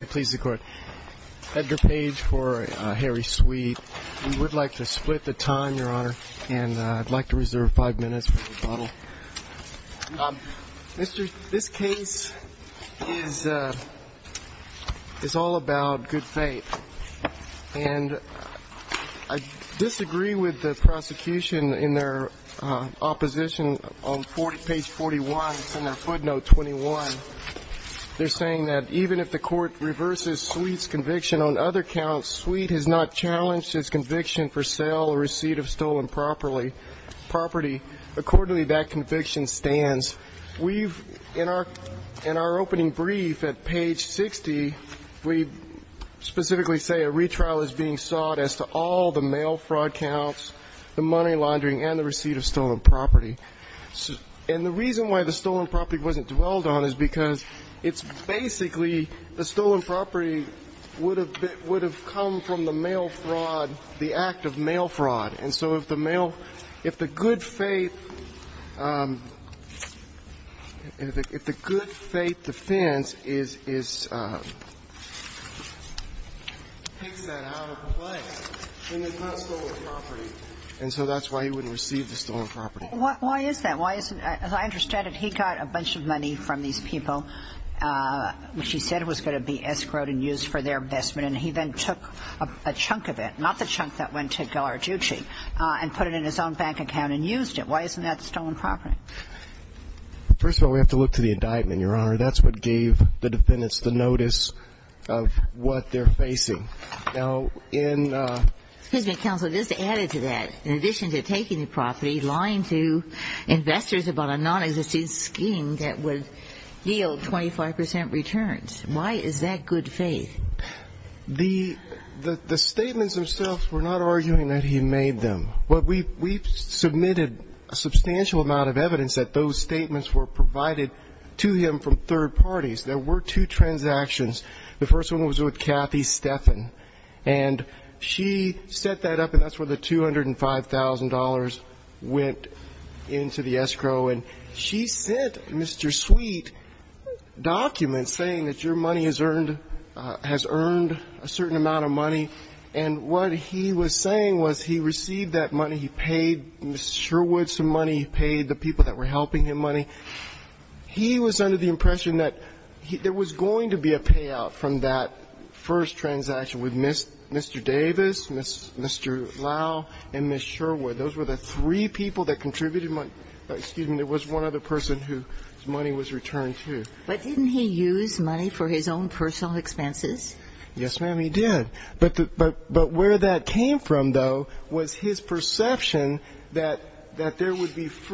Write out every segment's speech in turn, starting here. This case is all about good faith. I disagree with the prosecution in their opposition on page 41. It's in their footnote 21. They're saying that even if the court reverses Sweet's conviction on other counts, Sweet has not challenged his conviction for sale or receipt of stolen property. Accordingly, that conviction stands. In our opening brief at page 60, we specifically say a retrial is being sought as to all the mail fraud counts, the money laundering, and the receipt of stolen property. And the reason why the stolen property wasn't dwelled on is because it's basically the stolen property would have come from the mail fraud, the act of mail fraud. And so if the mail – if the good faith – if the good faith defense is – picks that out of the way, then it's not stolen property. And so that's why he wouldn't receive the stolen property. Why is that? Why isn't – as I understand it, he got a bunch of money from these people, which he said was going to be escrowed and used for their investment. And he then took a chunk of it – not the chunk that went to Ghilarducci – and put it in his own bank account and used it. Why isn't that stolen property? First of all, we have to look to the indictment, Your Honor. That's what gave the defendants the notice of what they're facing. Now, in – Excuse me, counsel. This added to that. In addition to taking the property, lying to investors about a nonexistent scheme that would yield 25 percent returns. Why is that good faith? The statements themselves were not arguing that he made them. But we've submitted a substantial amount of evidence that those statements were provided to him from third parties. There were two transactions. The first one was with Kathy Steffen. And she set that up, and that's where the $205,000 went into the escrow. And she sent Mr. Sweet documents saying that your money has earned – has earned a certain amount of money. And what he was saying was he received that money, he paid Mr. Sherwood some money, he paid the people that were helping him money. He was under the impression that there was going to be a payout from that first transaction with Mr. Davis, Mr. Lau, and Ms. Sherwood. Those were the three people that contributed money – excuse me, there was one other person whose money was returned to. But didn't he use money for his own personal expenses? Yes, ma'am, he did. But where that came from, though, was his perception that there would be –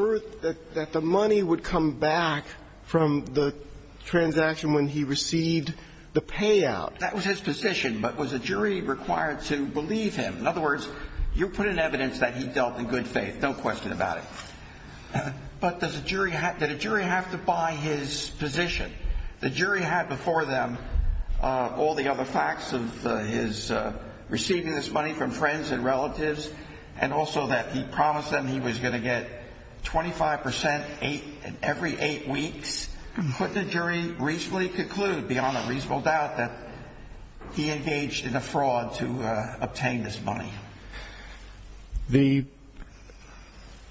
that the money would come back from the transaction when he received the payout. That was his position. But was a jury required to believe him? In other words, you put in evidence that he dealt in good faith, no question about it. But does a jury – did a jury have to buy his position? The jury had before them all the other facts of his receiving this money from friends and relatives, and also that he promised them he was going to get 25 percent every eight weeks. Couldn't a jury reasonably conclude, beyond a reasonable doubt, that he engaged in a fraud to obtain this money? The –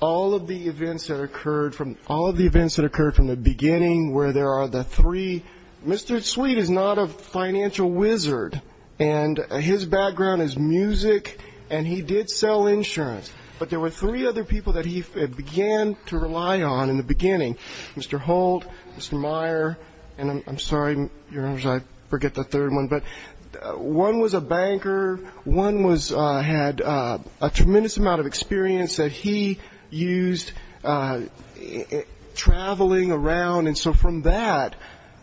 all of the events that occurred from – all of the events that occurred from the beginning where there are the three – Mr. Sweet is not a financial wizard, and his background is music, and he did sell insurance. But there were three other people that he began to rely on in the beginning. Mr. Holt, Mr. Meyer, and I'm sorry, Your Honor, I forget the third one. But one was a banker. One was – had a tremendous amount of experience that he used traveling around. And so from that,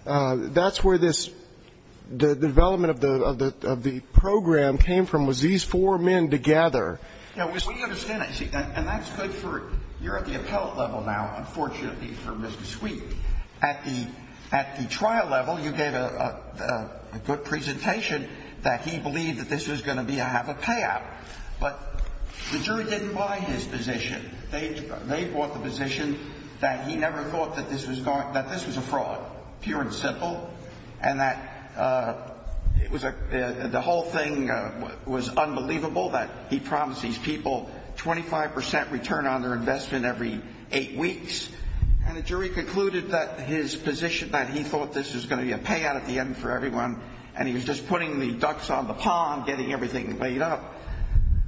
that's where this – the development of the program came from, was these four men together. Now, we understand that. You see, and that's good for – you're at the appellate level now, unfortunately, for Mr. Sweet. At the – at the trial level, you gave a good presentation that he believed that this was going to be a half a payout. But the jury didn't buy his position. They bought the position that he never thought that this was going – that this was a fraud, pure and simple, and that it was a – the whole thing was unbelievable that he promised these people 25 percent return on their investment every eight weeks. And the jury concluded that his position that he thought this was going to be a payout at the end for everyone and he was just putting the ducks on the pond, getting everything laid up,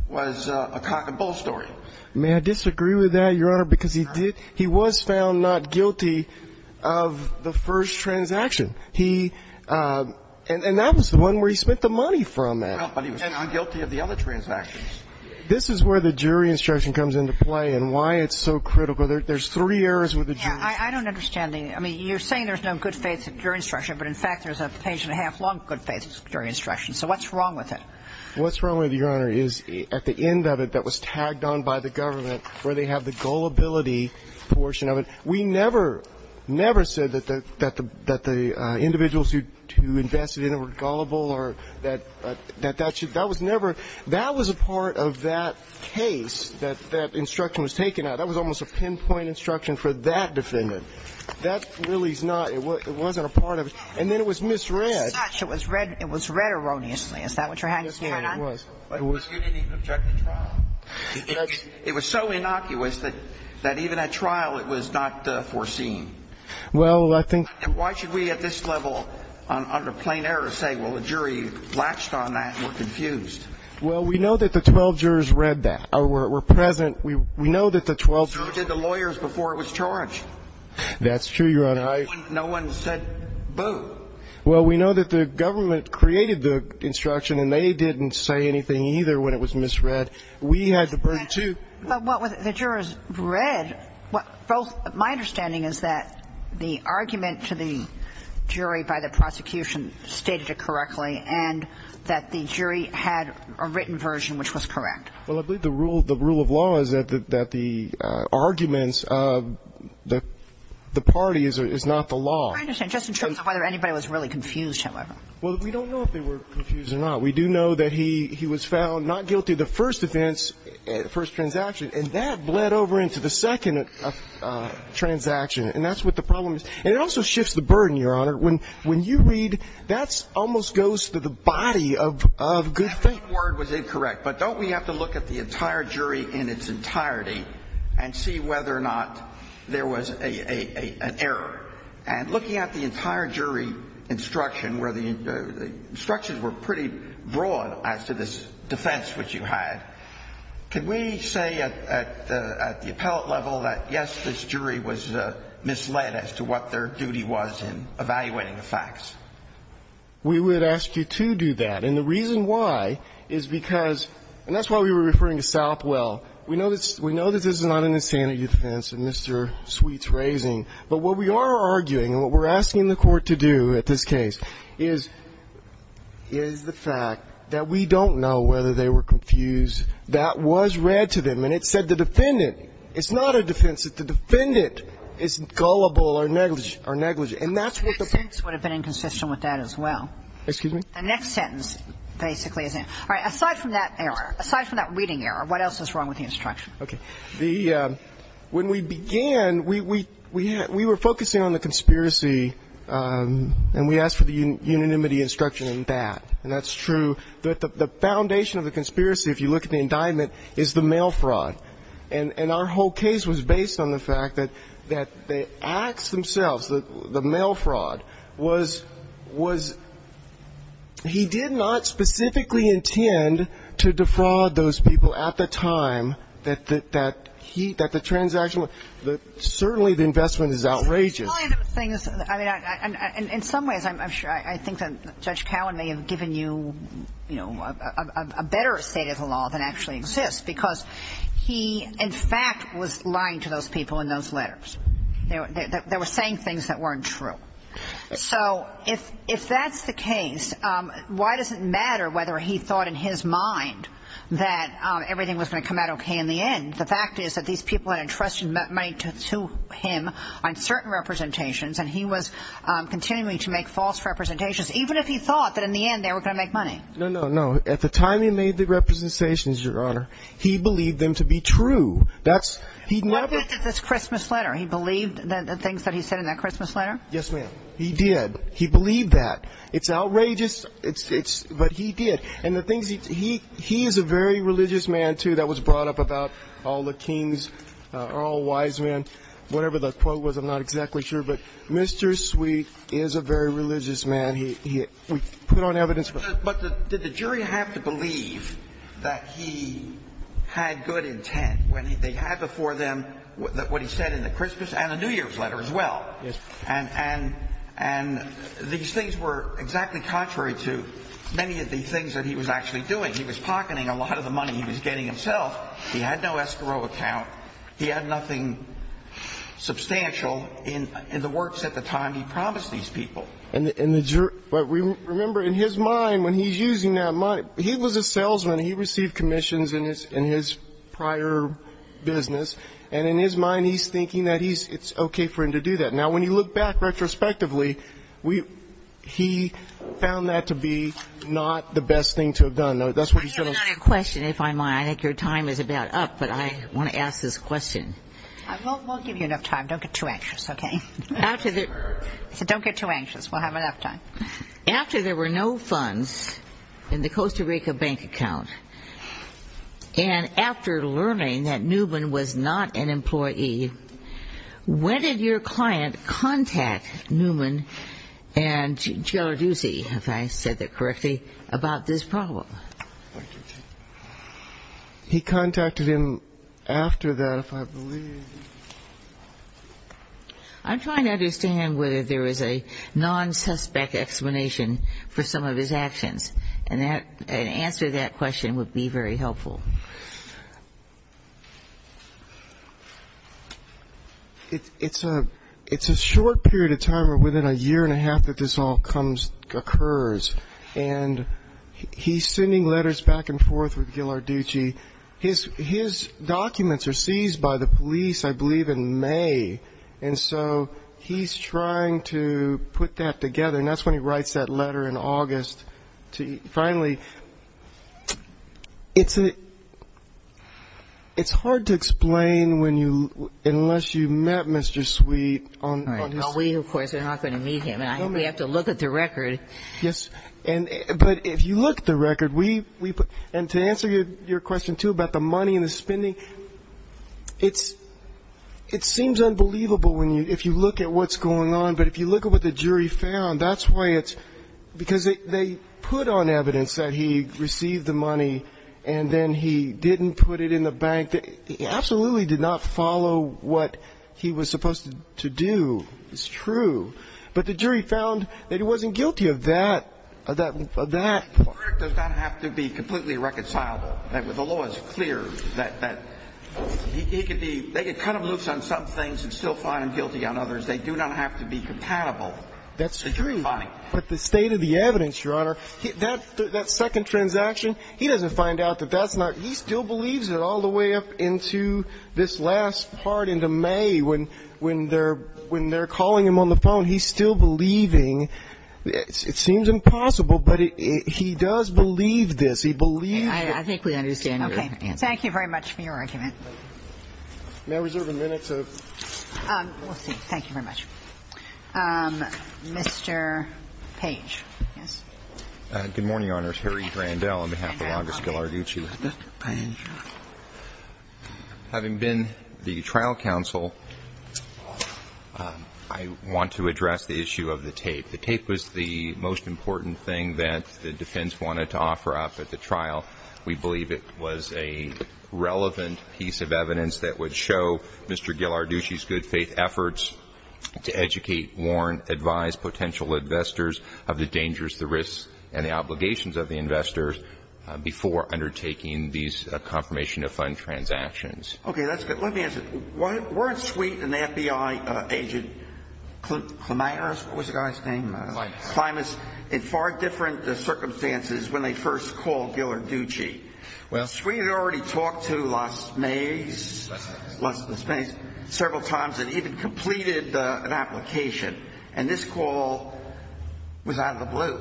was a cock and bull story. May I disagree with that, Your Honor, because he did – he was found not guilty of the first transaction. He – and that was the one where he spent the money from. Well, but he was found guilty of the other transactions. This is where the jury instruction comes into play and why it's so critical. There's three errors with the jury. I don't understand the – I mean, you're saying there's no good faith during instruction, but in fact there's a page and a half long good faith during instruction. So what's wrong with it? What's wrong with it, Your Honor, is at the end of it that was tagged on by the government where they have the gullibility portion of it. We never, never said that the – that the individuals who invested in it were gullible or that that should – that was never – that was a part of that case that that instruction was taken out. That was almost a pinpoint instruction for that defendant. That really is not – it wasn't a part of it. And then it was misread. It was read erroneously. Is that what you're having us turn on? Yes, Your Honor, it was. But you didn't even object to trial. It was so innocuous that even at trial it was not foreseen. Well, I think – And why should we at this level under plain error say, well, the jury latched on that and were confused? Well, we know that the 12 jurors read that or were present. We know that the 12 – So who did the lawyers before it was charged? That's true, Your Honor. No one said, boo. Well, we know that the government created the instruction, and they didn't say anything either when it was misread. We had to bring to – But what was it the jurors read? Both – my understanding is that the argument to the jury by the prosecution stated it correctly and that the jury had a written version which was correct. Well, I believe the rule of law is that the arguments of the party is not the law. I understand. Just in terms of whether anybody was really confused, however. Well, we don't know if they were confused or not. We do know that he was found not guilty of the first offense, first transaction, and that bled over into the second transaction, and that's what the problem is. And it also shifts the burden, Your Honor. When you read – that almost goes to the body of good faith. If one word was incorrect, but don't we have to look at the entire jury in its entirety and see whether or not there was an error? And looking at the entire jury instruction where the instructions were pretty broad as to this defense which you had, could we say at the appellate level that, yes, this jury was misled as to what their duty was in evaluating the facts? We would ask you to do that. And the reason why is because – and that's why we were referring to Southwell. We know that this is not an insanity defense that Mr. Sweet's raising, but what we are arguing and what we're asking the Court to do at this case is the fact that we don't know whether they were confused. That was read to them, and it said the defendant – it's not a defense that the defendant is gullible or negligent. And that's what the – That sentence would have been inconsistent with that as well. Excuse me? The next sentence basically is – all right. Aside from that error, aside from that reading error, what else is wrong with the instruction? Okay. The – when we began, we were focusing on the conspiracy, and we asked for the unanimity instruction in that. And that's true. The foundation of the conspiracy, if you look at the indictment, is the mail fraud. And our whole case was based on the fact that the acts themselves, the mail fraud, was – he did not specifically intend to defraud those people at the time that he – that the transaction – certainly the investment is outrageous. One of the things – I mean, in some ways, I'm sure – I think that Judge Cowan may have given you, you know, a better state of the law than actually exists because he, in fact, was lying to those people in those letters. They were saying things that weren't true. So if that's the case, why does it matter whether he thought in his mind that everything was going to come out okay in the end? The fact is that these people had entrusted money to him on certain representations, and he was continuing to make false representations, even if he thought that in the end they were going to make money. No, no, no. At the time he made the representations, Your Honor, he believed them to be true. That's – he never – What about this Christmas letter? He believed the things that he said in that Christmas letter? Yes, ma'am. He did. He believed that. It's outrageous, but he did. And the things – he is a very religious man, too. That was brought up about all the kings, all wise men, whatever the quote was. I'm not exactly sure. But Mr. Sweet is a very religious man. We put on evidence for him. But did the jury have to believe that he had good intent when they had before them what he said in the Christmas and the New Year's letter as well? Yes, Your Honor. And these things were exactly contrary to many of the things that he was actually doing. He was pocketing a lot of the money he was getting himself. He had no escrow account. He had nothing substantial in the works at the time he promised these people. But remember, in his mind, when he's using that money – he was a salesman. He received commissions in his prior business. And in his mind, he's thinking that it's okay for him to do that. Now, when you look back retrospectively, he found that to be not the best thing to have done. That's what he said. I have another question, if I might. I think your time is about up, but I want to ask this question. We'll give you enough time. Don't get too anxious, okay? So don't get too anxious. We'll have enough time. After there were no funds in the Costa Rica bank account and after learning that Newman was not an employee, when did your client contact Newman and Giarduzzi, if I said that correctly, about this problem? He contacted him after that, if I believe. I'm trying to understand whether there is a non-suspect explanation for some of his actions, and an answer to that question would be very helpful. It's a short period of time, or within a year and a half, that this all occurs. And he's sending letters back and forth with Giarduzzi. His documents are seized by the police, I believe, in May. And so he's trying to put that together. And that's when he writes that letter in August. Finally, it's hard to explain unless you've met Mr. Sweet. We, of course, are not going to meet him. We have to look at the record. Yes. But if you look at the record, and to answer your question, too, about the money and the spending, it seems unbelievable if you look at what's going on. But if you look at what the jury found, that's why it's ‑‑ because they put on evidence that he received the money, and then he didn't put it in the bank. He absolutely did not follow what he was supposed to do. It's true. But the jury found that he wasn't guilty of that. The verdict does not have to be completely reconcilable. The law is clear that he could be ‑‑ they could cut him loose on some things and still find him guilty on others. They do not have to be compatible. But the state of the evidence, Your Honor, that second transaction, he doesn't find out that that's not ‑‑ He still believes it all the way up into this last part, into May, when they're calling him on the phone. He's still believing. It seems impossible, but he does believe this. He believes it. I think we understand your answer. Okay. Thank you very much for your argument. May I reserve a minute to ‑‑ We'll see. Thank you very much. Mr. Page. Yes. Good morning, Your Honor. I'm Terry Grandel on behalf of Longus Gilarducci. Having been the trial counsel, I want to address the issue of the tape. The tape was the most important thing that the defense wanted to offer up at the trial. We believe it was a relevant piece of evidence that would show Mr. Gilarducci's good faith efforts to educate, warn, advise potential investors of the dangers, the risks, and the obligations of the investors before undertaking these confirmation of fund transactions. Okay. That's good. Let me ask you. Weren't Sweet and the FBI agent, Climax? What was the guy's name? Climax. Climax. In far different circumstances when they first called Gilarducci. Well ‑‑ Sweet had already talked to Las Maze. Las Maze. Several times and even completed an application. And this call was out of the blue.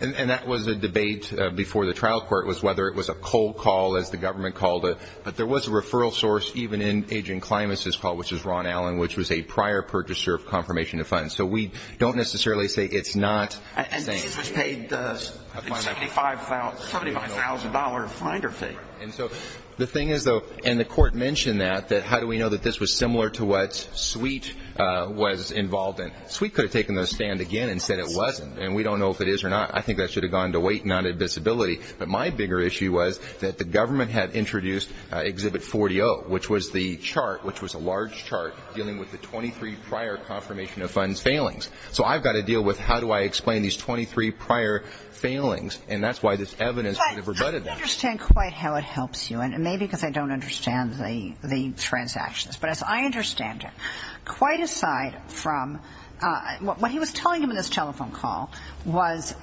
And that was a debate before the trial court was whether it was a cold call, as the government called it. But there was a referral source even in Agent Climax's call, which was Ron Allen, which was a prior purchaser of confirmation of funds. So we don't necessarily say it's not. And he was paid a $75,000 finder fee. And so the thing is, though, and the court mentioned that, that how do we know that this was similar to what Sweet was involved in? Sweet could have taken the stand again and said it wasn't. And we don't know if it is or not. I think that should have gone to weight and not to disability. But my bigger issue was that the government had introduced Exhibit 40-0, which was the chart, which was a large chart dealing with the 23 prior confirmation of funds failings. So I've got to deal with how do I explain these 23 prior failings. And that's why this evidence would have rebutted that. I don't understand quite how it helps you. And maybe because I don't understand the transactions. But as I understand it, quite aside from what he was telling him in this telephone call was,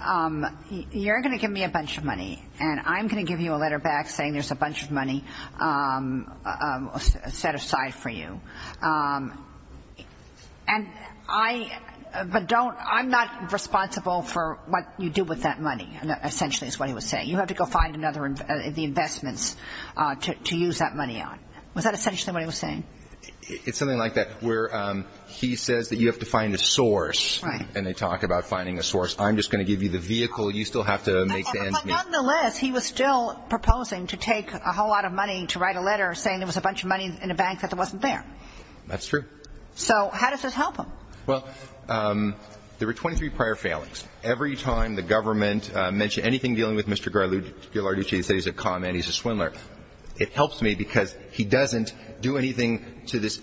you're going to give me a bunch of money, and I'm going to give you a letter back saying there's a bunch of money set aside for you. But I'm not responsible for what you do with that money, essentially is what he was saying. You have to go find the investments to use that money on. Was that essentially what he was saying? It's something like that, where he says that you have to find a source. Right. And they talk about finding a source. I'm just going to give you the vehicle. You still have to make the end meet. But nonetheless, he was still proposing to take a whole lot of money to write a letter saying there was a bunch of money in a bank that wasn't there. That's true. So how does this help him? Well, there were 23 prior failings. Every time the government mentioned anything dealing with Mr. Ghilarducci, they said he's a con man, he's a swindler. It helps me because he doesn't do anything to this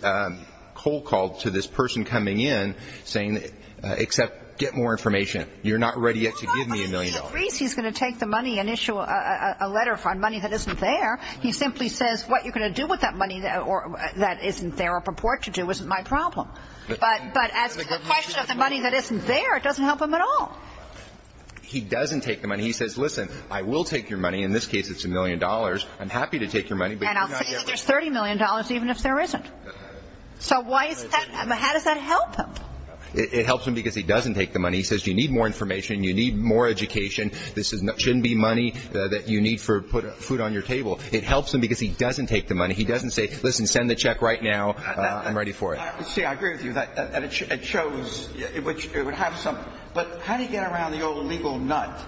cold call to this person coming in saying, except get more information. You're not ready yet to give me a million dollars. He agrees he's going to take the money and issue a letter for money that isn't there. He simply says what you're going to do with that money that isn't there or purport to do isn't my problem. But as for the question of the money that isn't there, it doesn't help him at all. He doesn't take the money. He says, listen, I will take your money. In this case, it's a million dollars. I'm happy to take your money. And I'll say there's $30 million even if there isn't. So why is that? How does that help him? It helps him because he doesn't take the money. He says you need more information. You need more education. This shouldn't be money that you need for food on your table. It helps him because he doesn't take the money. He doesn't say, listen, send the check right now. I'm ready for it. I agree with you that it shows, which it would have some. But how do you get around the old legal nut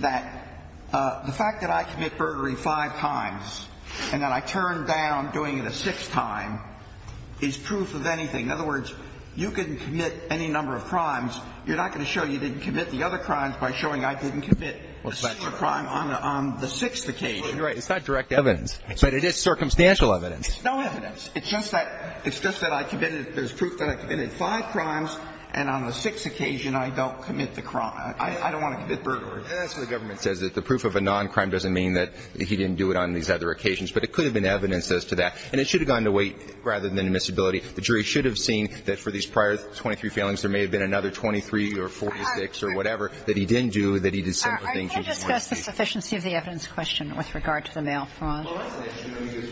that the fact that I commit burglary five times and that I turn down doing it a sixth time is proof of anything? In other words, you can commit any number of crimes. You're not going to show you didn't commit the other crimes by showing I didn't commit a similar crime on the sixth occasion. Right. It's not direct evidence. But it is circumstantial evidence. No evidence. It's just that, it's just that I committed, there's proof that I committed five crimes and on the sixth occasion I don't commit the crime. I don't want to commit burglary. That's what the government says. That the proof of a non-crime doesn't mean that he didn't do it on these other occasions. But it could have been evidence as to that. And it should have gone to weight rather than admissibility. The jury should have seen that for these prior 23 failings, there may have been another 23 or 46 or whatever that he didn't do, that he did several things he didn't want to do. Are you going to discuss the sufficiency of the evidence question with regard to the mail fraud? Well, that's an issue.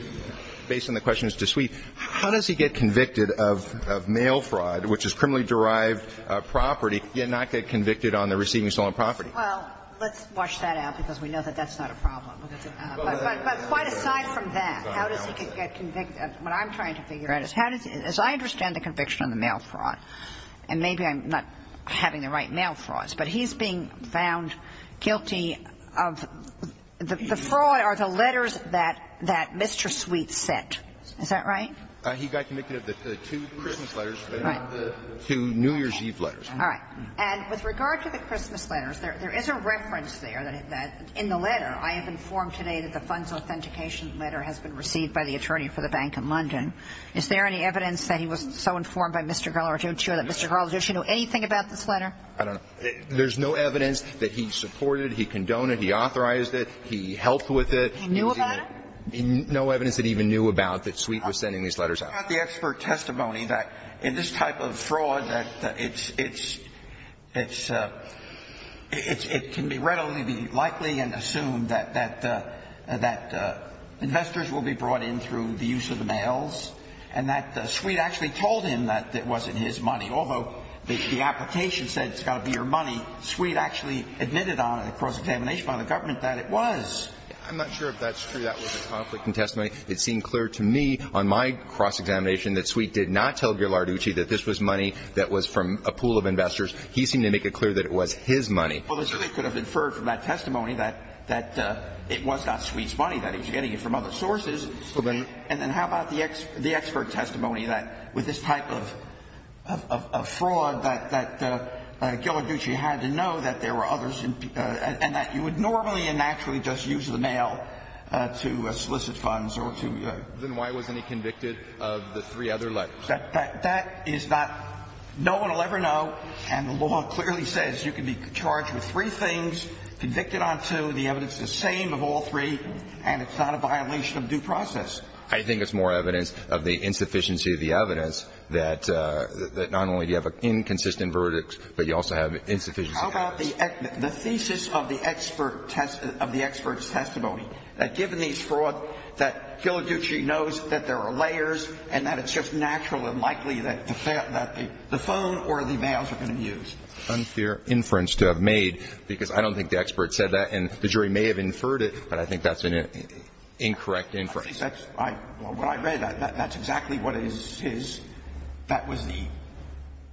Based on the question as to suite. How does he get convicted of mail fraud, which is criminally derived property, yet not get convicted on the receiving stolen property? Well, let's wash that out because we know that that's not a problem. But quite aside from that, how does he get convicted? What I'm trying to figure out is how does he, as I understand the conviction on the mail fraud, and maybe I'm not having the right mail frauds, but he's being found guilty of the fraud are the letters that Mr. Sweet sent. Is that right? He got convicted of the two Christmas letters. Right. Two New Year's Eve letters. All right. And with regard to the Christmas letters, there is a reference there that in the letter, I have informed today that the funds authentication letter has been received by the attorney for the Bank of London. Is there any evidence that he was so informed by Mr. Garland that Mr. Garland should know anything about this letter? I don't know. There's no evidence that he supported, he condoned it, he authorized it, he helped with it. He knew about it? No evidence that he even knew about that Sweet was sending these letters out. I've got the expert testimony that in this type of fraud that it's, it's, it's, it can readily be likely and assumed that, that, that investors will be brought in through the use of the mails and that Sweet actually told him that it wasn't his money. Although the application said it's got to be your money, Sweet actually admitted on a cross-examination by the government that it was. I'm not sure if that's true. That was a conflicting testimony. It seemed clear to me on my cross-examination that Sweet did not tell Gilarducci that this was money that was from a pool of investors. He seemed to make it clear that it was his money. Well, they could have inferred from that testimony that, that it was not Sweet's money, that he was getting it from other sources. And then how about the expert testimony that with this type of, of, of fraud that, that Gilarducci had to know that there were others and that you would normally and naturally just use the mail to solicit funds or to. Then why wasn't he convicted of the three other letters? That, that, that is not, no one will ever know. And the law clearly says you can be charged with three things, convicted on two, the evidence is the same of all three, and it's not a violation of due process. I think it's more evidence of the insufficiency of the evidence that, that not only do you have an inconsistent verdict, but you also have insufficiency. How about the, the thesis of the expert test, of the expert's testimony that given these fraud, that Gilarducci knows that there are layers and that it's just natural and likely that the, that the phone or the mails are going to be used. Unfair inference to have made, because I don't think the expert said that and the jury may have inferred it, but I think that's an incorrect inference. I, what I read, that, that's exactly what is his, that was the,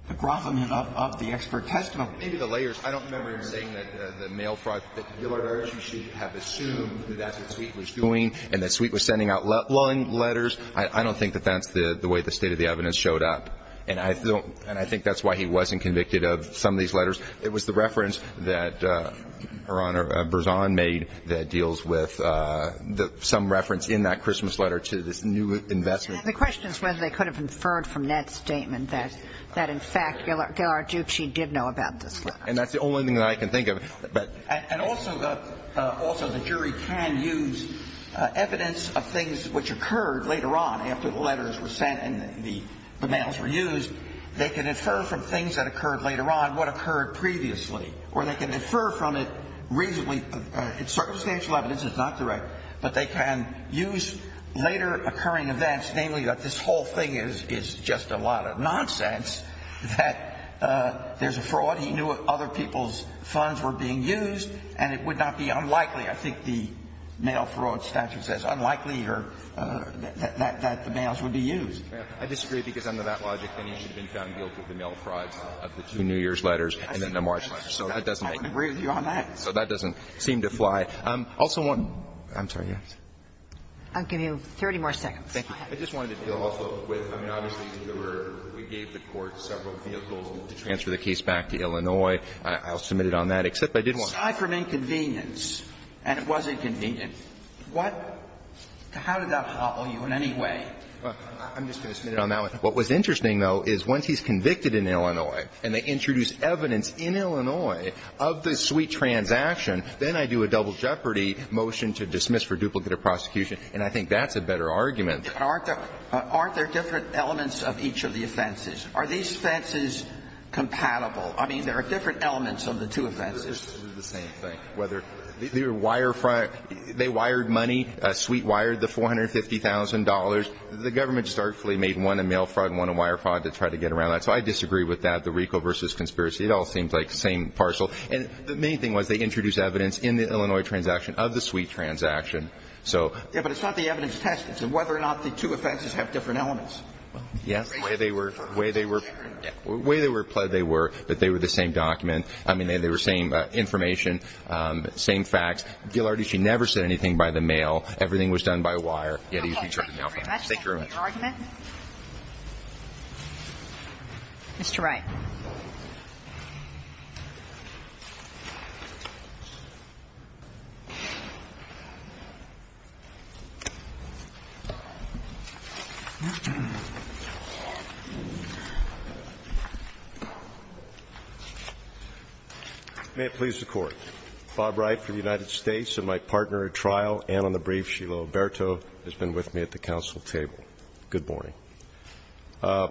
the grovelment of, of the expert testimony. Maybe the layers, I don't remember him saying that the mail fraud, that Gilarducci should have assumed that that's what Sweet was doing and that Sweet was sending out long letters. I, I don't think that that's the, the way the state of the evidence showed up. And I don't, and I think that's why he wasn't convicted of some of these letters. It was the reference that Her Honor Berzon made that deals with the, some reference in that Christmas letter to this new investment. And the question is whether they could have inferred from Ned's statement that, that in fact Gilarducci did know about this letter. And that's the only thing that I can think of. But. And, and also the, also the jury can use evidence of things which occurred later on, after the letters were sent and the, the mails were used. They can infer from things that occurred later on what occurred previously. Or they can infer from it reasonably, it's circumstantial evidence, it's not direct. But they can use later occurring events, namely that this whole thing is, is just a lot of nonsense. That there's a fraud, he knew other people's funds were being used and it would not be unlikely. I think the mail fraud statute says unlikely or that, that the mails would be used. I disagree because under that logic then he should have been found guilty of the mail frauds of the two New Year's letters and then the March letter. So that doesn't make sense. I agree with you on that. So that doesn't seem to fly. Also one. I'm sorry. Yes. I'll give you 30 more seconds. Thank you. I just wanted to deal also with, I mean, obviously there were, we gave the Court several vehicles to transfer the case back to Illinois. I'll submit it on that. Except I did want to. Aside from inconvenience, and it was inconvenient, what, how did that hobble you in any way? I'm just going to submit it on that one. What was interesting, though, is once he's convicted in Illinois and they introduce evidence in Illinois of this sweet transaction, then I do a double jeopardy motion to dismiss for duplicate of prosecution, and I think that's a better argument. But aren't there different elements of each of the offenses? Are these offenses compatible? I mean, there are different elements of the two offenses. They're the same thing. They're wire fraud. They wired money. Sweet wired the $450,000. The government just artfully made one a mail fraud and one a wire fraud to try to get around that. So I disagree with that, the RICO versus conspiracy. It all seems like the same parcel. And the main thing was they introduced evidence in the Illinois transaction of the sweet transaction. Yeah, but it's not the evidence tested. It's whether or not the two offenses have different elements. Yes, the way they were pled, they were, but they were the same document. I mean, they were the same information, same facts. Ghilardi, she never said anything by the mail. Everything was done by wire. Thank you very much. Thank you for your argument. Mr. Wright. May it please the Court. Bob Wright for the United States and my partner at trial and on the brief, Sheila Alberto, has been with me at the council table. Good morning. I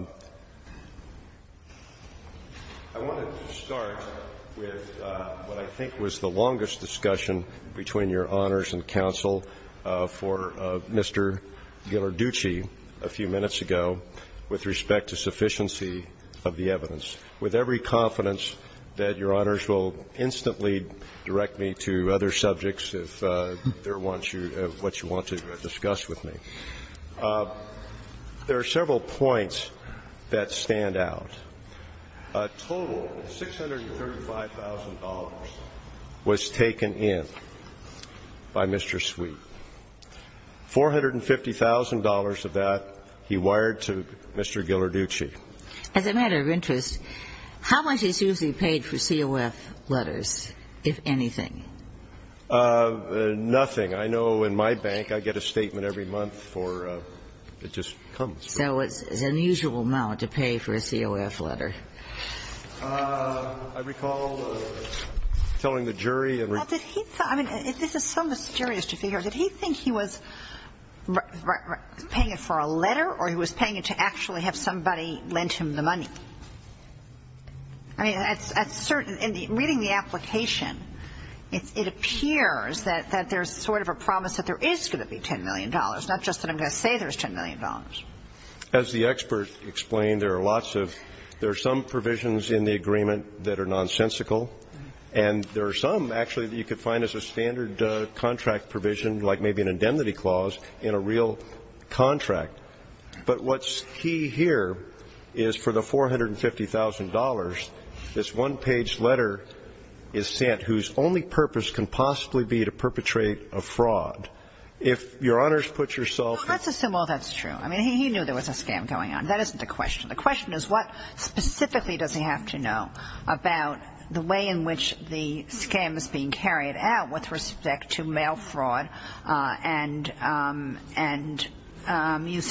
wanted to start with what I think was the longest discussion between your honors and counsel for Mr. Ghilardiucci a few minutes ago with respect to sufficiency of the evidence. With every confidence that your honors will instantly direct me to other subjects if there are ones what you want to discuss with me. There are several points that stand out. A total of $635,000 was taken in by Mr. Sweet. $450,000 of that he wired to Mr. Ghilardiucci. As a matter of interest, how much is usually paid for COF letters, if anything? Nothing. I know in my bank, I get a statement every month for it just comes. So it's an unusual amount to pay for a COF letter. I recall telling the jury and we're going to go back to the jury. Well, did he thought, I mean, this is so mysterious to figure out, did he think he was paying it for a letter or he was paying it to actually have somebody lend him the money? I mean, reading the application, it appears that there's sort of a promise that there is going to be $10 million, not just that I'm going to say there's $10 million. As the expert explained, there are some provisions in the agreement that are nonsensical and there are some actually that you could find as a standard contract provision like maybe an indemnity clause in a real contract. But what's key here is for the $450,000, this one-page letter is sent whose only purpose can possibly be to perpetrate a fraud. If Your Honors put yourself in... Well, let's assume all that's true. I mean, he knew there was a scam going on. That isn't the question. The question is what specifically does he have to know about the way in which the I mean,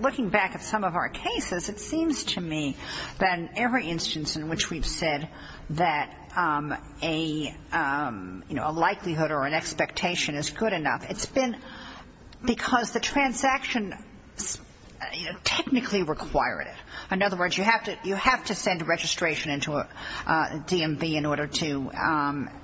looking back at some of our cases, it seems to me that in every instance in which we've said that a likelihood or an expectation is good enough, it's been because the transaction technically required it. In other words, you have to send a registration into a DMV in order to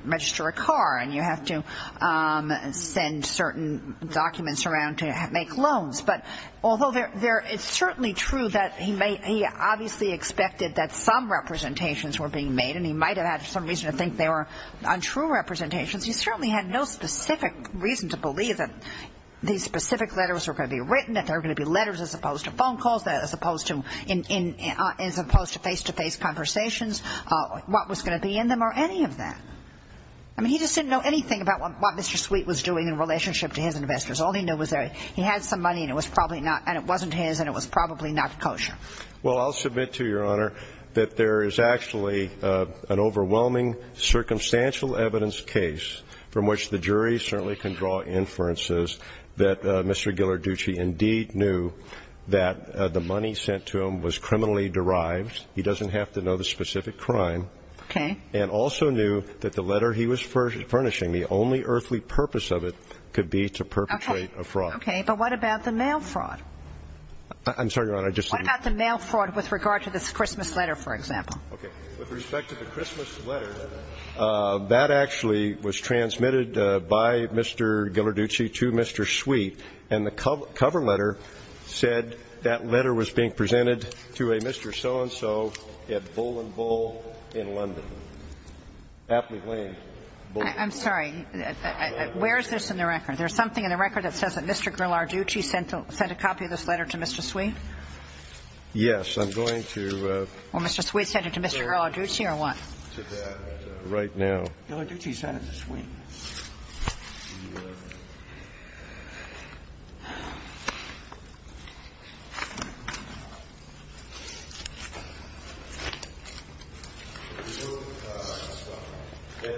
register a car and you have to send certain documents around to make loans. But although it's certainly true that he obviously expected that some representations were being made and he might have had some reason to think they were untrue representations, he certainly had no specific reason to believe that these specific letters were going to be written, that there were going to be letters as opposed to phone calls, as opposed to face-to-face conversations, what was going to be in them or any of that. I mean, he just didn't know anything about what Mr. Sweet was doing in relationship to his investors. All he knew was that he had some money and it was probably not, and it wasn't his and it was probably not kosher. Well, I'll submit to Your Honor that there is actually an overwhelming circumstantial evidence case from which the jury certainly can draw inferences that Mr. Ghilarducci indeed knew that the money sent to him was criminally derived. He doesn't have to know the specific crime. Okay. And also knew that the letter he was furnishing, the only earthly purpose of it could be to perpetrate a fraud. Okay. But what about the mail fraud? I'm sorry, Your Honor, I just said that. What about the mail fraud with regard to this Christmas letter, for example? Okay. With respect to the Christmas letter, that actually was transmitted by Mr. Ghilarducci to Mr. Sweet, and the cover letter said that letter was being presented to a Mr. Sweet at the so-and-so at Bull and Bull in London. Happly Lane. I'm sorry, where is this in the record? There's something in the record that says that Mr. Ghilarducci sent a copy of this letter to Mr. Sweet? Yes. I'm going to go over to that right now. Mr. Ghilarducci sent it to Sweet.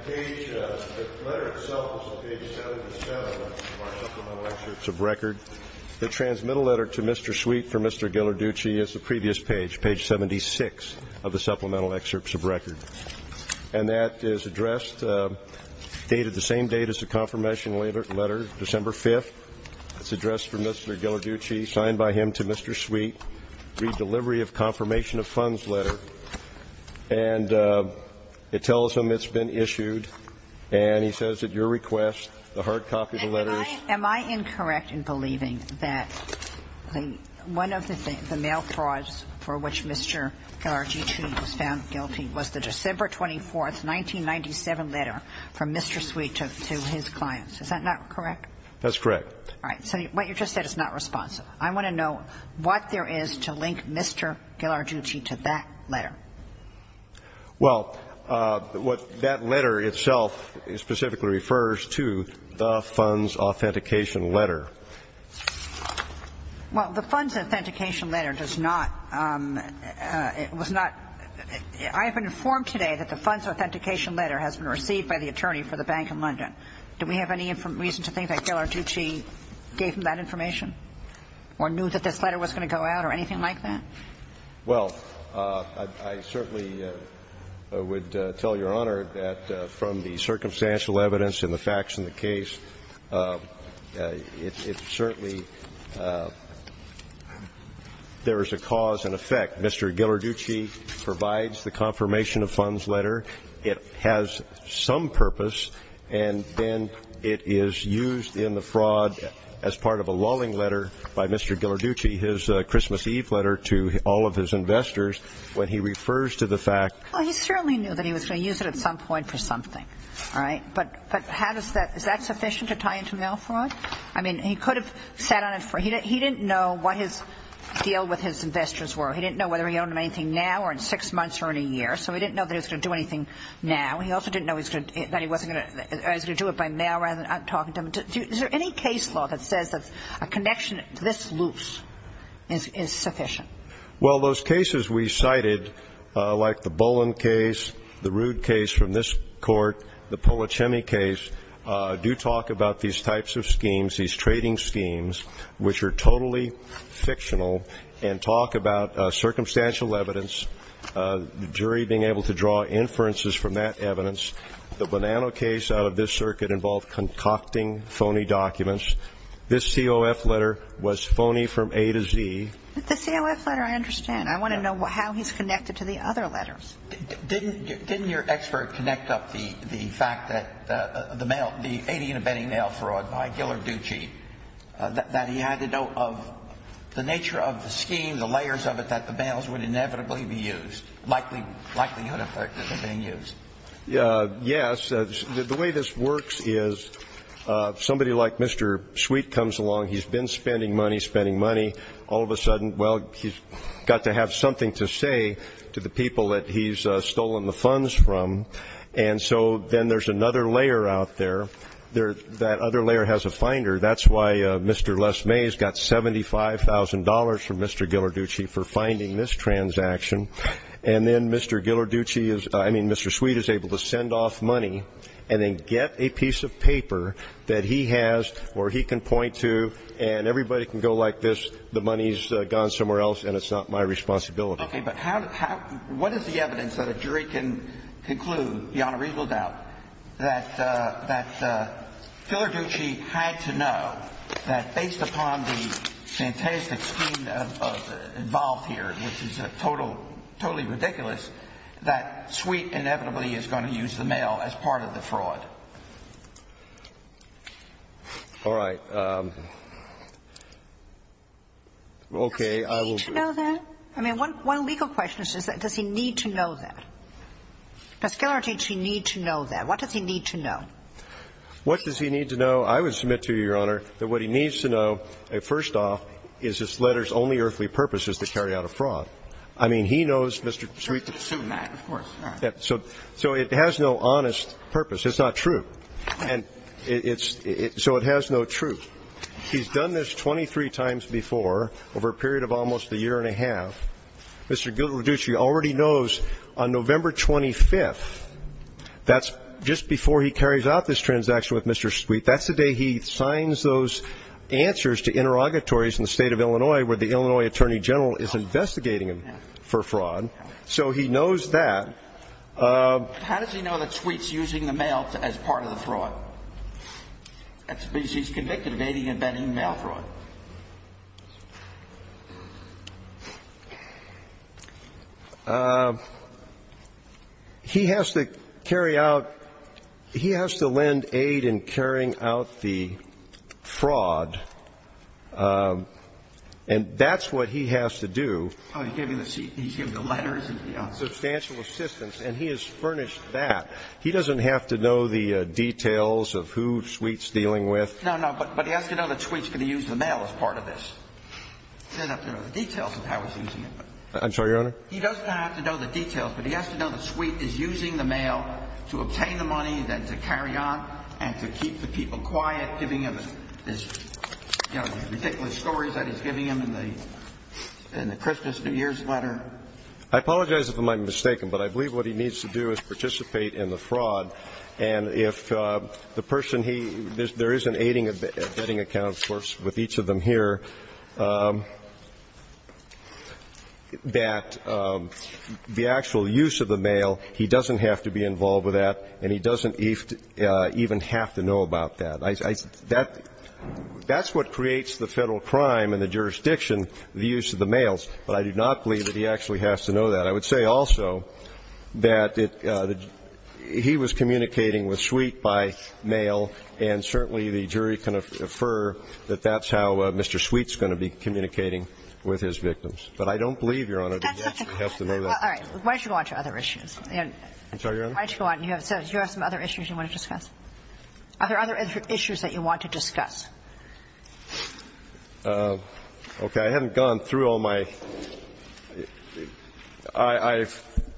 The letter itself is on page 77 of our supplemental excerpts of record. The transmittal letter to Mr. Sweet from Mr. Ghilarducci is the previous page, page 76 of the supplemental excerpts of record. And that is addressed, dated the same date as the confirmation letter, December 5th. It's addressed for Mr. Ghilarducci, signed by him to Mr. Sweet, read delivery of confirmation of funds letter. And it tells him it's been issued, and he says at your request, the hard copy of the letter. Am I incorrect in believing that one of the mail frauds for which Mr. Ghilarducci was found guilty was the December 24th, 1997 letter from Mr. Sweet to his clients? Is that not correct? That's correct. All right. So what you just said is not responsive. I want to know what there is to link Mr. Ghilarducci to that letter. Well, what that letter itself specifically refers to, the funds authentication letter. Well, the funds authentication letter does not, was not, I have been informed today that the funds authentication letter has been received by the attorney for the Bank of London. Do we have any reason to think that Ghilarducci gave him that information or knew that this letter was going to go out or anything like that? Well, I certainly would tell Your Honor that from the circumstantial evidence and the facts in the case, it certainly, there is a cause and effect. Mr. Ghilarducci provides the confirmation of funds letter. It has some purpose, and then it is used in the fraud as part of a lulling letter by Mr. Ghilarducci, his Christmas Eve letter to all of his investors when he refers to the fact. Well, he certainly knew that he was going to use it at some point for something. All right. But how does that, is that sufficient to tie into mail fraud? I mean, he could have sat on it. He didn't know what his deal with his investors were. He didn't know whether he owned them anything now or in six months or in a year, so he didn't know that he was going to do anything now. He also didn't know he was going to do it by mail rather than talking to them. Is there any case law that says that a connection this loose is sufficient? Well, those cases we cited, like the Boland case, the Rood case from this court, the Polichemi case, do talk about these types of schemes, these trading schemes, which are totally fictional and talk about circumstantial evidence, the jury being able to draw inferences from that evidence. The Bonanno case out of this circuit involved concocting phony documents. This COF letter was phony from A to Z. The COF letter, I understand. I want to know how he's connected to the other letters. Didn't your expert connect up the fact that the mail, the 80-unit betting mail fraud by Giller Ducey, that he had to know of the nature of the scheme, the layers of it, that the mails would inevitably be used, likelihood of it being used? Yes. The way this works is somebody like Mr. Sweet comes along. He's been spending money, spending money. All of a sudden, well, he's got to have something to say to the people that he's stolen the funds from. And so then there's another layer out there. That other layer has a finder. That's why Mr. Lesmay has got $75,000 from Mr. Giller Ducey for finding this transaction. And then Mr. Giller Ducey is, I mean, Mr. Sweet is able to send off money and then get a piece of paper that he has or he can point to, and everybody can go like this, the money's gone somewhere else and it's not my responsibility. Okay. But how do you – what is the evidence that a jury can conclude beyond a reasonable doubt that Giller Ducey had to know that based upon the fantastic scheme involved here, which is totally ridiculous, that Sweet inevitably is going to use the mail as part of the fraud? All right. Okay. Does he need to know that? I mean, one legal question is, does he need to know that? Does Giller Ducey need to know that? What does he need to know? What does he need to know? I would submit to you, Your Honor, that what he needs to know, first off, is this letter's only earthly purpose is to carry out a fraud. I mean, he knows Mr. Sweet. So we can assume that, of course. All right. So it has no honest purpose. It's not true. So it has no truth. He's done this 23 times before over a period of almost a year and a half. Mr. Giller Ducey already knows on November 25th, that's just before he carries out this transaction with Mr. Sweet, that's the day he signs those answers to interrogatories in the State of Illinois where the Illinois Attorney General is investigating him for fraud. So he knows that. How does he know that Sweet's using the mail as part of the fraud? That's because he's convicted of aiding and abetting mail fraud. He has to carry out, he has to lend aid in carrying out the fraud, and that's what he has to do. Oh, he's giving the letters. Substantial assistance. And he has furnished that. He doesn't have to know the details of who Sweet's dealing with. No, no. But he has to know that Sweet's going to use the mail as part of this. He doesn't have to know the details of how he's using it. I'm sorry, Your Honor? He doesn't have to know the details, but he has to know that Sweet is using the mail to obtain the money and to carry on and to keep the people quiet, giving them these ridiculous stories that he's giving them in the Christmas New Year's letter. I apologize if I'm mistaken, but I believe what he needs to do is participate in the fraud. And if the person he – there is an aiding and abetting account, of course, with each of them here, that the actual use of the mail, he doesn't have to be involved with that, and he doesn't even have to know about that. That's what creates the Federal crime in the jurisdiction, the use of the mails. But I do not believe that he actually has to know that. I would say also that he was communicating with Sweet by mail, and certainly the jury can infer that that's how Mr. Sweet's going to be communicating with his victims. But I don't believe, Your Honor, that he has to know that. All right. Why don't you go on to other issues? I'm sorry, Your Honor? Why don't you go on? Are there other issues that you want to discuss? Okay. I haven't gone through all my – I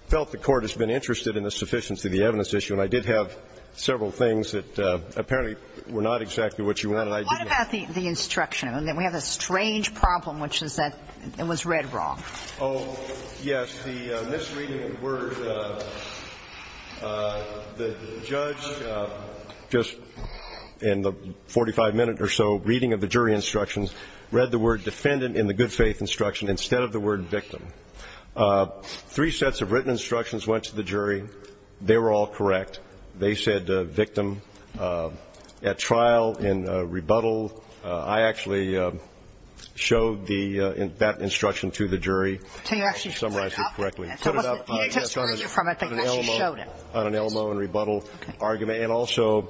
felt the Court has been interested in the sufficiency of the evidence issue, and I did have several things that apparently were not exactly what you wanted. What about the instruction? We have a strange problem, which is that it was read wrong. Oh, yes. The misreading of the word, the judge just in the 45-minute or so reading of the jury instructions read the word defendant in the good faith instruction instead of the word victim. Three sets of written instructions went to the jury. They were all correct. They said victim. At trial, in rebuttal, I actually showed that instruction to the jury. So you actually put it up? I summarized it correctly. You didn't just read it from it. You actually showed it. On an Elmo in rebuttal argument. Okay. And also,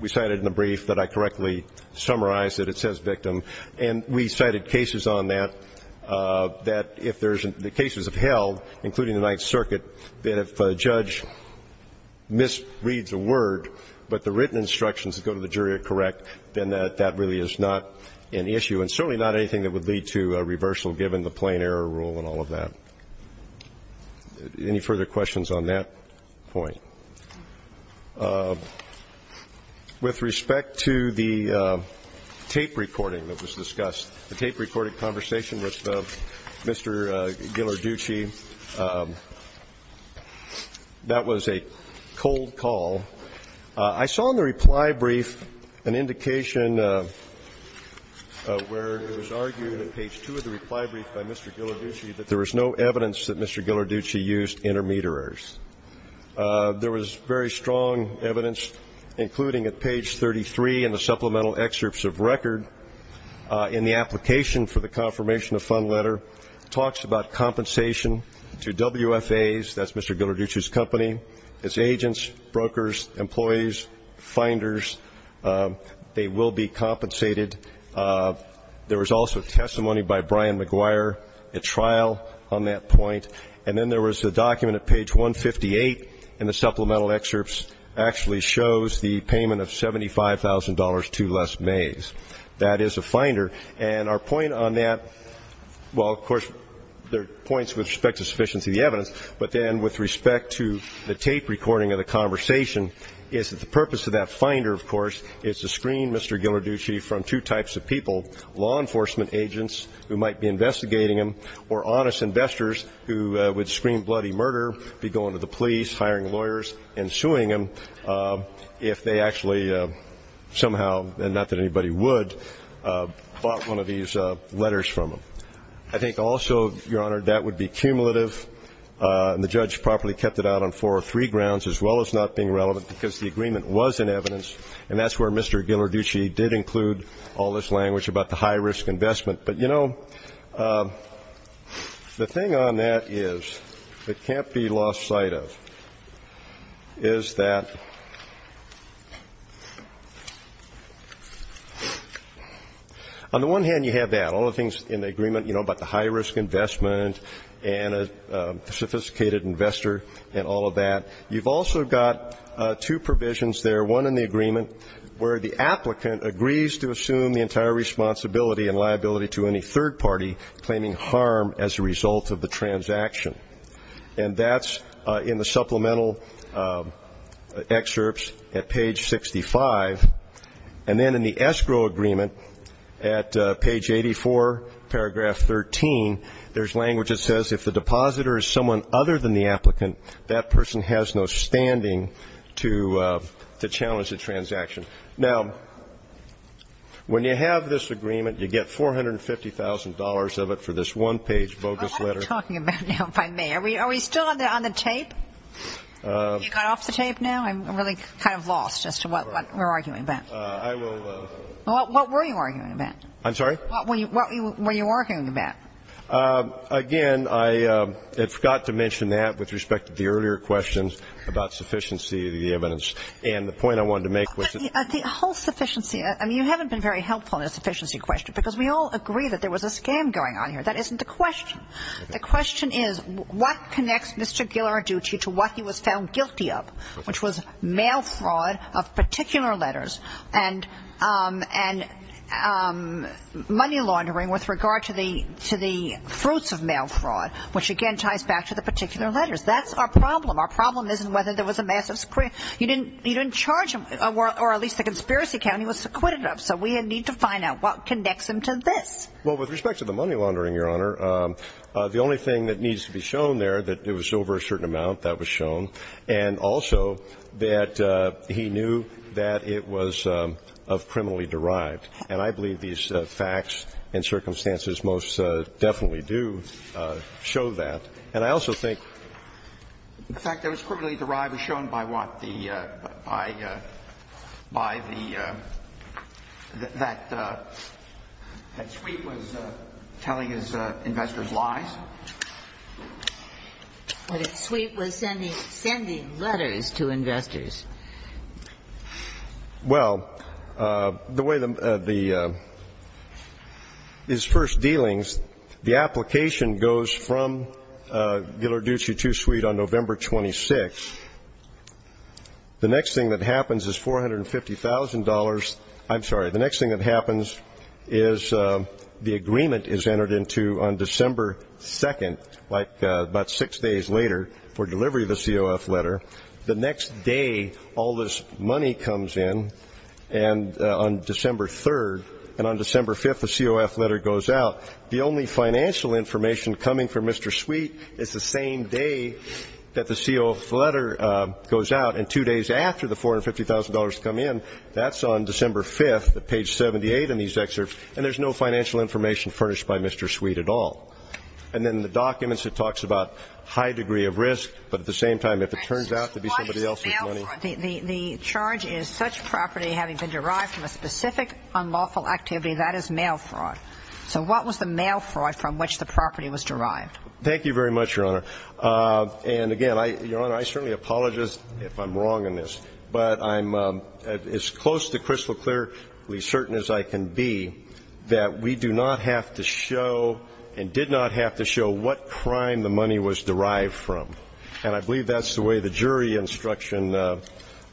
we cited in the brief that I correctly summarized that it says victim. And we cited cases on that, that if there's – the cases of Held, including the Ninth Circuit, that if a judge misreads a word but the written instructions that go to the jury are correct, then that really is not an issue, and certainly not anything that would lead to a reversal given the plain error rule and all of that. Any further questions on that point? With respect to the tape recording that was discussed, the tape recording conversation with Mr. Ghilarducci, that was a cold call. I saw in the reply brief an indication where it was argued at page 2 of the reply brief by Mr. Ghilarducci that there was no evidence that Mr. Ghilarducci used intermediaries. There was very strong evidence, including at page 33 in the supplemental excerpts of record in the application for the confirmation of fund letter, talks about compensation to WFAs – that's Mr. Ghilarducci's company – as agents, brokers, employees, finders. They will be compensated. There was also testimony by Brian McGuire at trial on that point. And then there was a document at page 158 in the supplemental excerpts actually shows the payment of $75,000 to Les Mays. That is a finder. And our point on that – well, of course, there are points with respect to sufficiency of the evidence, but then with respect to the tape recording of the conversation is that the purpose of that finder, of course, is to screen Mr. Ghilarducci from two types of people, law enforcement agents who might be investigating him or honest investors who would screen bloody murder, be going to the police, hiring lawyers, and suing him if they actually somehow – get one of these letters from him. I think also, Your Honor, that would be cumulative, and the judge properly kept it out on four or three grounds as well as not being relevant because the agreement was in evidence, and that's where Mr. Ghilarducci did include all this language about the high-risk investment. But, you know, the thing on that is that can't be lost sight of is that on the one hand, you have that. All the things in the agreement, you know, about the high-risk investment and a sophisticated investor and all of that. You've also got two provisions there, one in the agreement, where the applicant agrees to assume the entire responsibility and liability to any third party claiming harm as a result of the transaction. And that's in the supplemental excerpts at page 65. And then in the escrow agreement at page 84, paragraph 13, there's language that says, if the depositor is someone other than the applicant, that person has no standing to challenge the transaction. Now, when you have this agreement, you get $450,000 of it for this one-page bogus letter. What are you talking about now, if I may? Are we still on the tape? Have you got off the tape now? I'm really kind of lost as to what we're arguing about. I will – What were you arguing about? I'm sorry? What were you arguing about? Again, I forgot to mention that with respect to the earlier questions about sufficiency of the evidence. And the point I wanted to make was that the whole sufficiency – I mean, you haven't been very helpful in the sufficiency question, because we all agree that there was a scam going on here. That isn't the question. The question is, what connects Mr. Ghilarducci to what he was found guilty of, which was mail fraud of particular letters and money laundering with regard to the fruits of mail fraud, which, again, ties back to the particular letters. That's our problem. Our problem isn't whether there was a massive – you didn't charge him, or at least the conspiracy account he was acquitted of. So we need to find out what connects him to this. Well, with respect to the money laundering, Your Honor, the only thing that needs to be shown there that it was over a certain amount, that was shown. And also that he knew that it was of criminally derived. And I believe these facts and circumstances most definitely do show that. And I also think the fact that it was criminally derived was shown by what the – by the – that Sweet was telling his investors lies. But if Sweet was sending letters to investors. Well, the way the – his first dealings, the application goes from Ghilarducci to Sweet on November 26th. The next thing that happens is $450,000 – I'm sorry. The next thing that happens is the agreement is entered into on December 2nd, like about six days later, for delivery of the COF letter. The next day, all this money comes in on December 3rd. And on December 5th, the COF letter goes out. The only financial information coming from Mr. Sweet is the same day that the COF letter goes out. And two days after the $450,000 come in, that's on December 5th at page 78 in these excerpts. And there's no financial information furnished by Mr. Sweet at all. And then the documents, it talks about high degree of risk, but at the same time, if it turns out to be somebody else's money. The charge is such property having been derived from a specific unlawful activity, that is mail fraud. So what was the mail fraud from which the property was derived? Thank you very much, Your Honor. And again, Your Honor, I certainly apologize if I'm wrong in this. But I'm as close to crystal-clearly certain as I can be that we do not have to show and did not have to show what crime the money was derived from. And I believe that's the way the jury instruction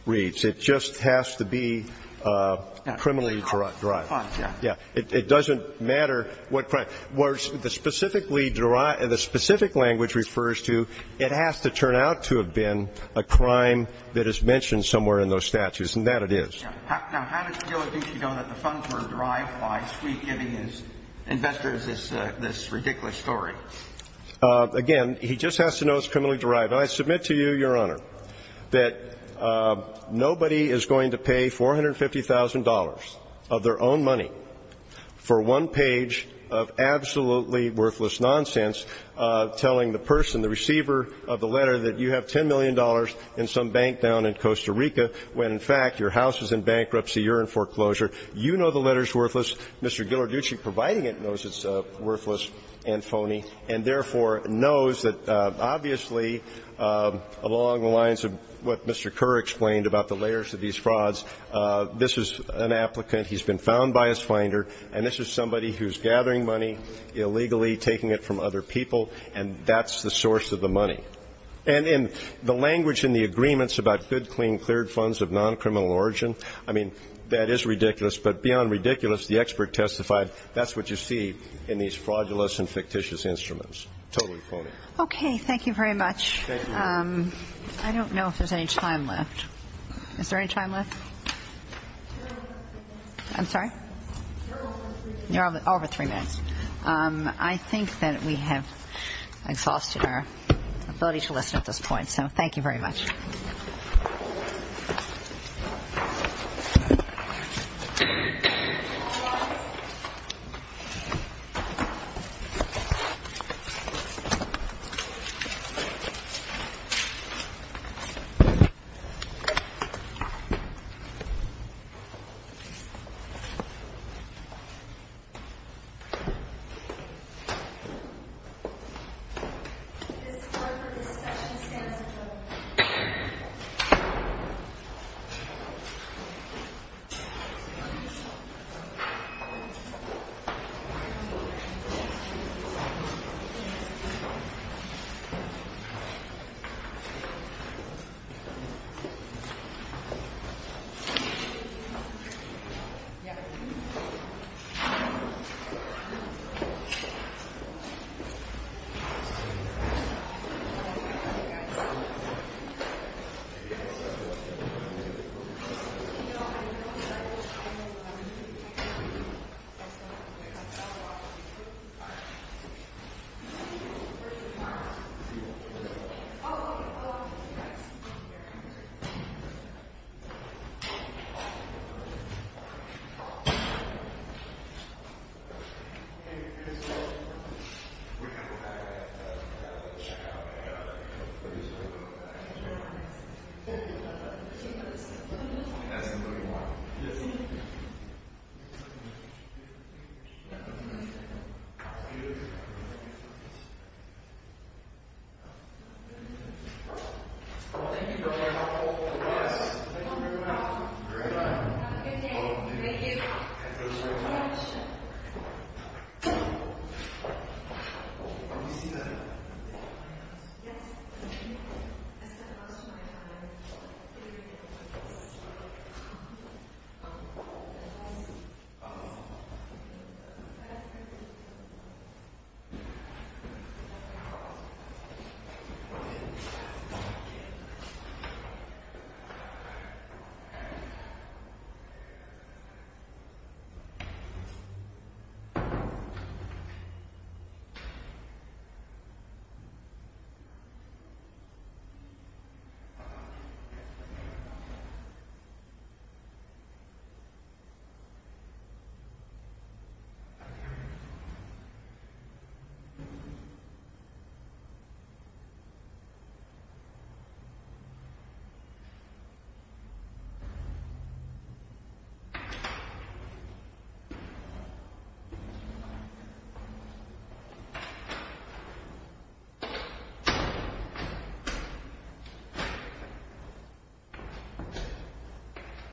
reads. It just has to be criminally derived. Yeah. It doesn't matter what crime. The specific language refers to it has to turn out to have been a crime that is mentioned somewhere in those statutes. And that it is. Now, how does Gil Adichie know that the funds were derived by Sweet giving his investors this ridiculous story? Again, he just has to know it's criminally derived. I submit to you, Your Honor, that nobody is going to pay $450,000 of their own money for one page of absolutely worthless nonsense telling the person, the receiver of the letter, that you have $10 million in some bank down in Costa Rica when, in fact, your house is in bankruptcy, you're in foreclosure. You know the letter is worthless. Mr. Gil Adichie, providing it, knows it's worthless and phony and, therefore, knows that obviously along the lines of what Mr. Kerr explained about the layers of these frauds, this is an applicant. He's been found by his finder, and this is somebody who's gathering money illegally, taking it from other people, and that's the source of the money. And in the language in the agreements about good, clean, cleared funds of non-criminal origin, I mean, that is ridiculous. But beyond ridiculous, the expert testified, that's what you see in these fraudulous and fictitious instruments. Totally phony. Okay. Thank you very much. Thank you. I don't know if there's any time left. Is there any time left? I'm sorry? You're over three minutes. I think that we have exhausted our ability to listen at this point, so thank you very much. All rise. This court for discussion stands adjourned. Thank you. Thank you. I'll see you here at the second voting wall. Yes. Thank you very much. All rise. Thank you very much. Great. Have a good day. Thank you. Thank you so much. Thank you all very much. Do you see that? Yes. Thank you. Thank you.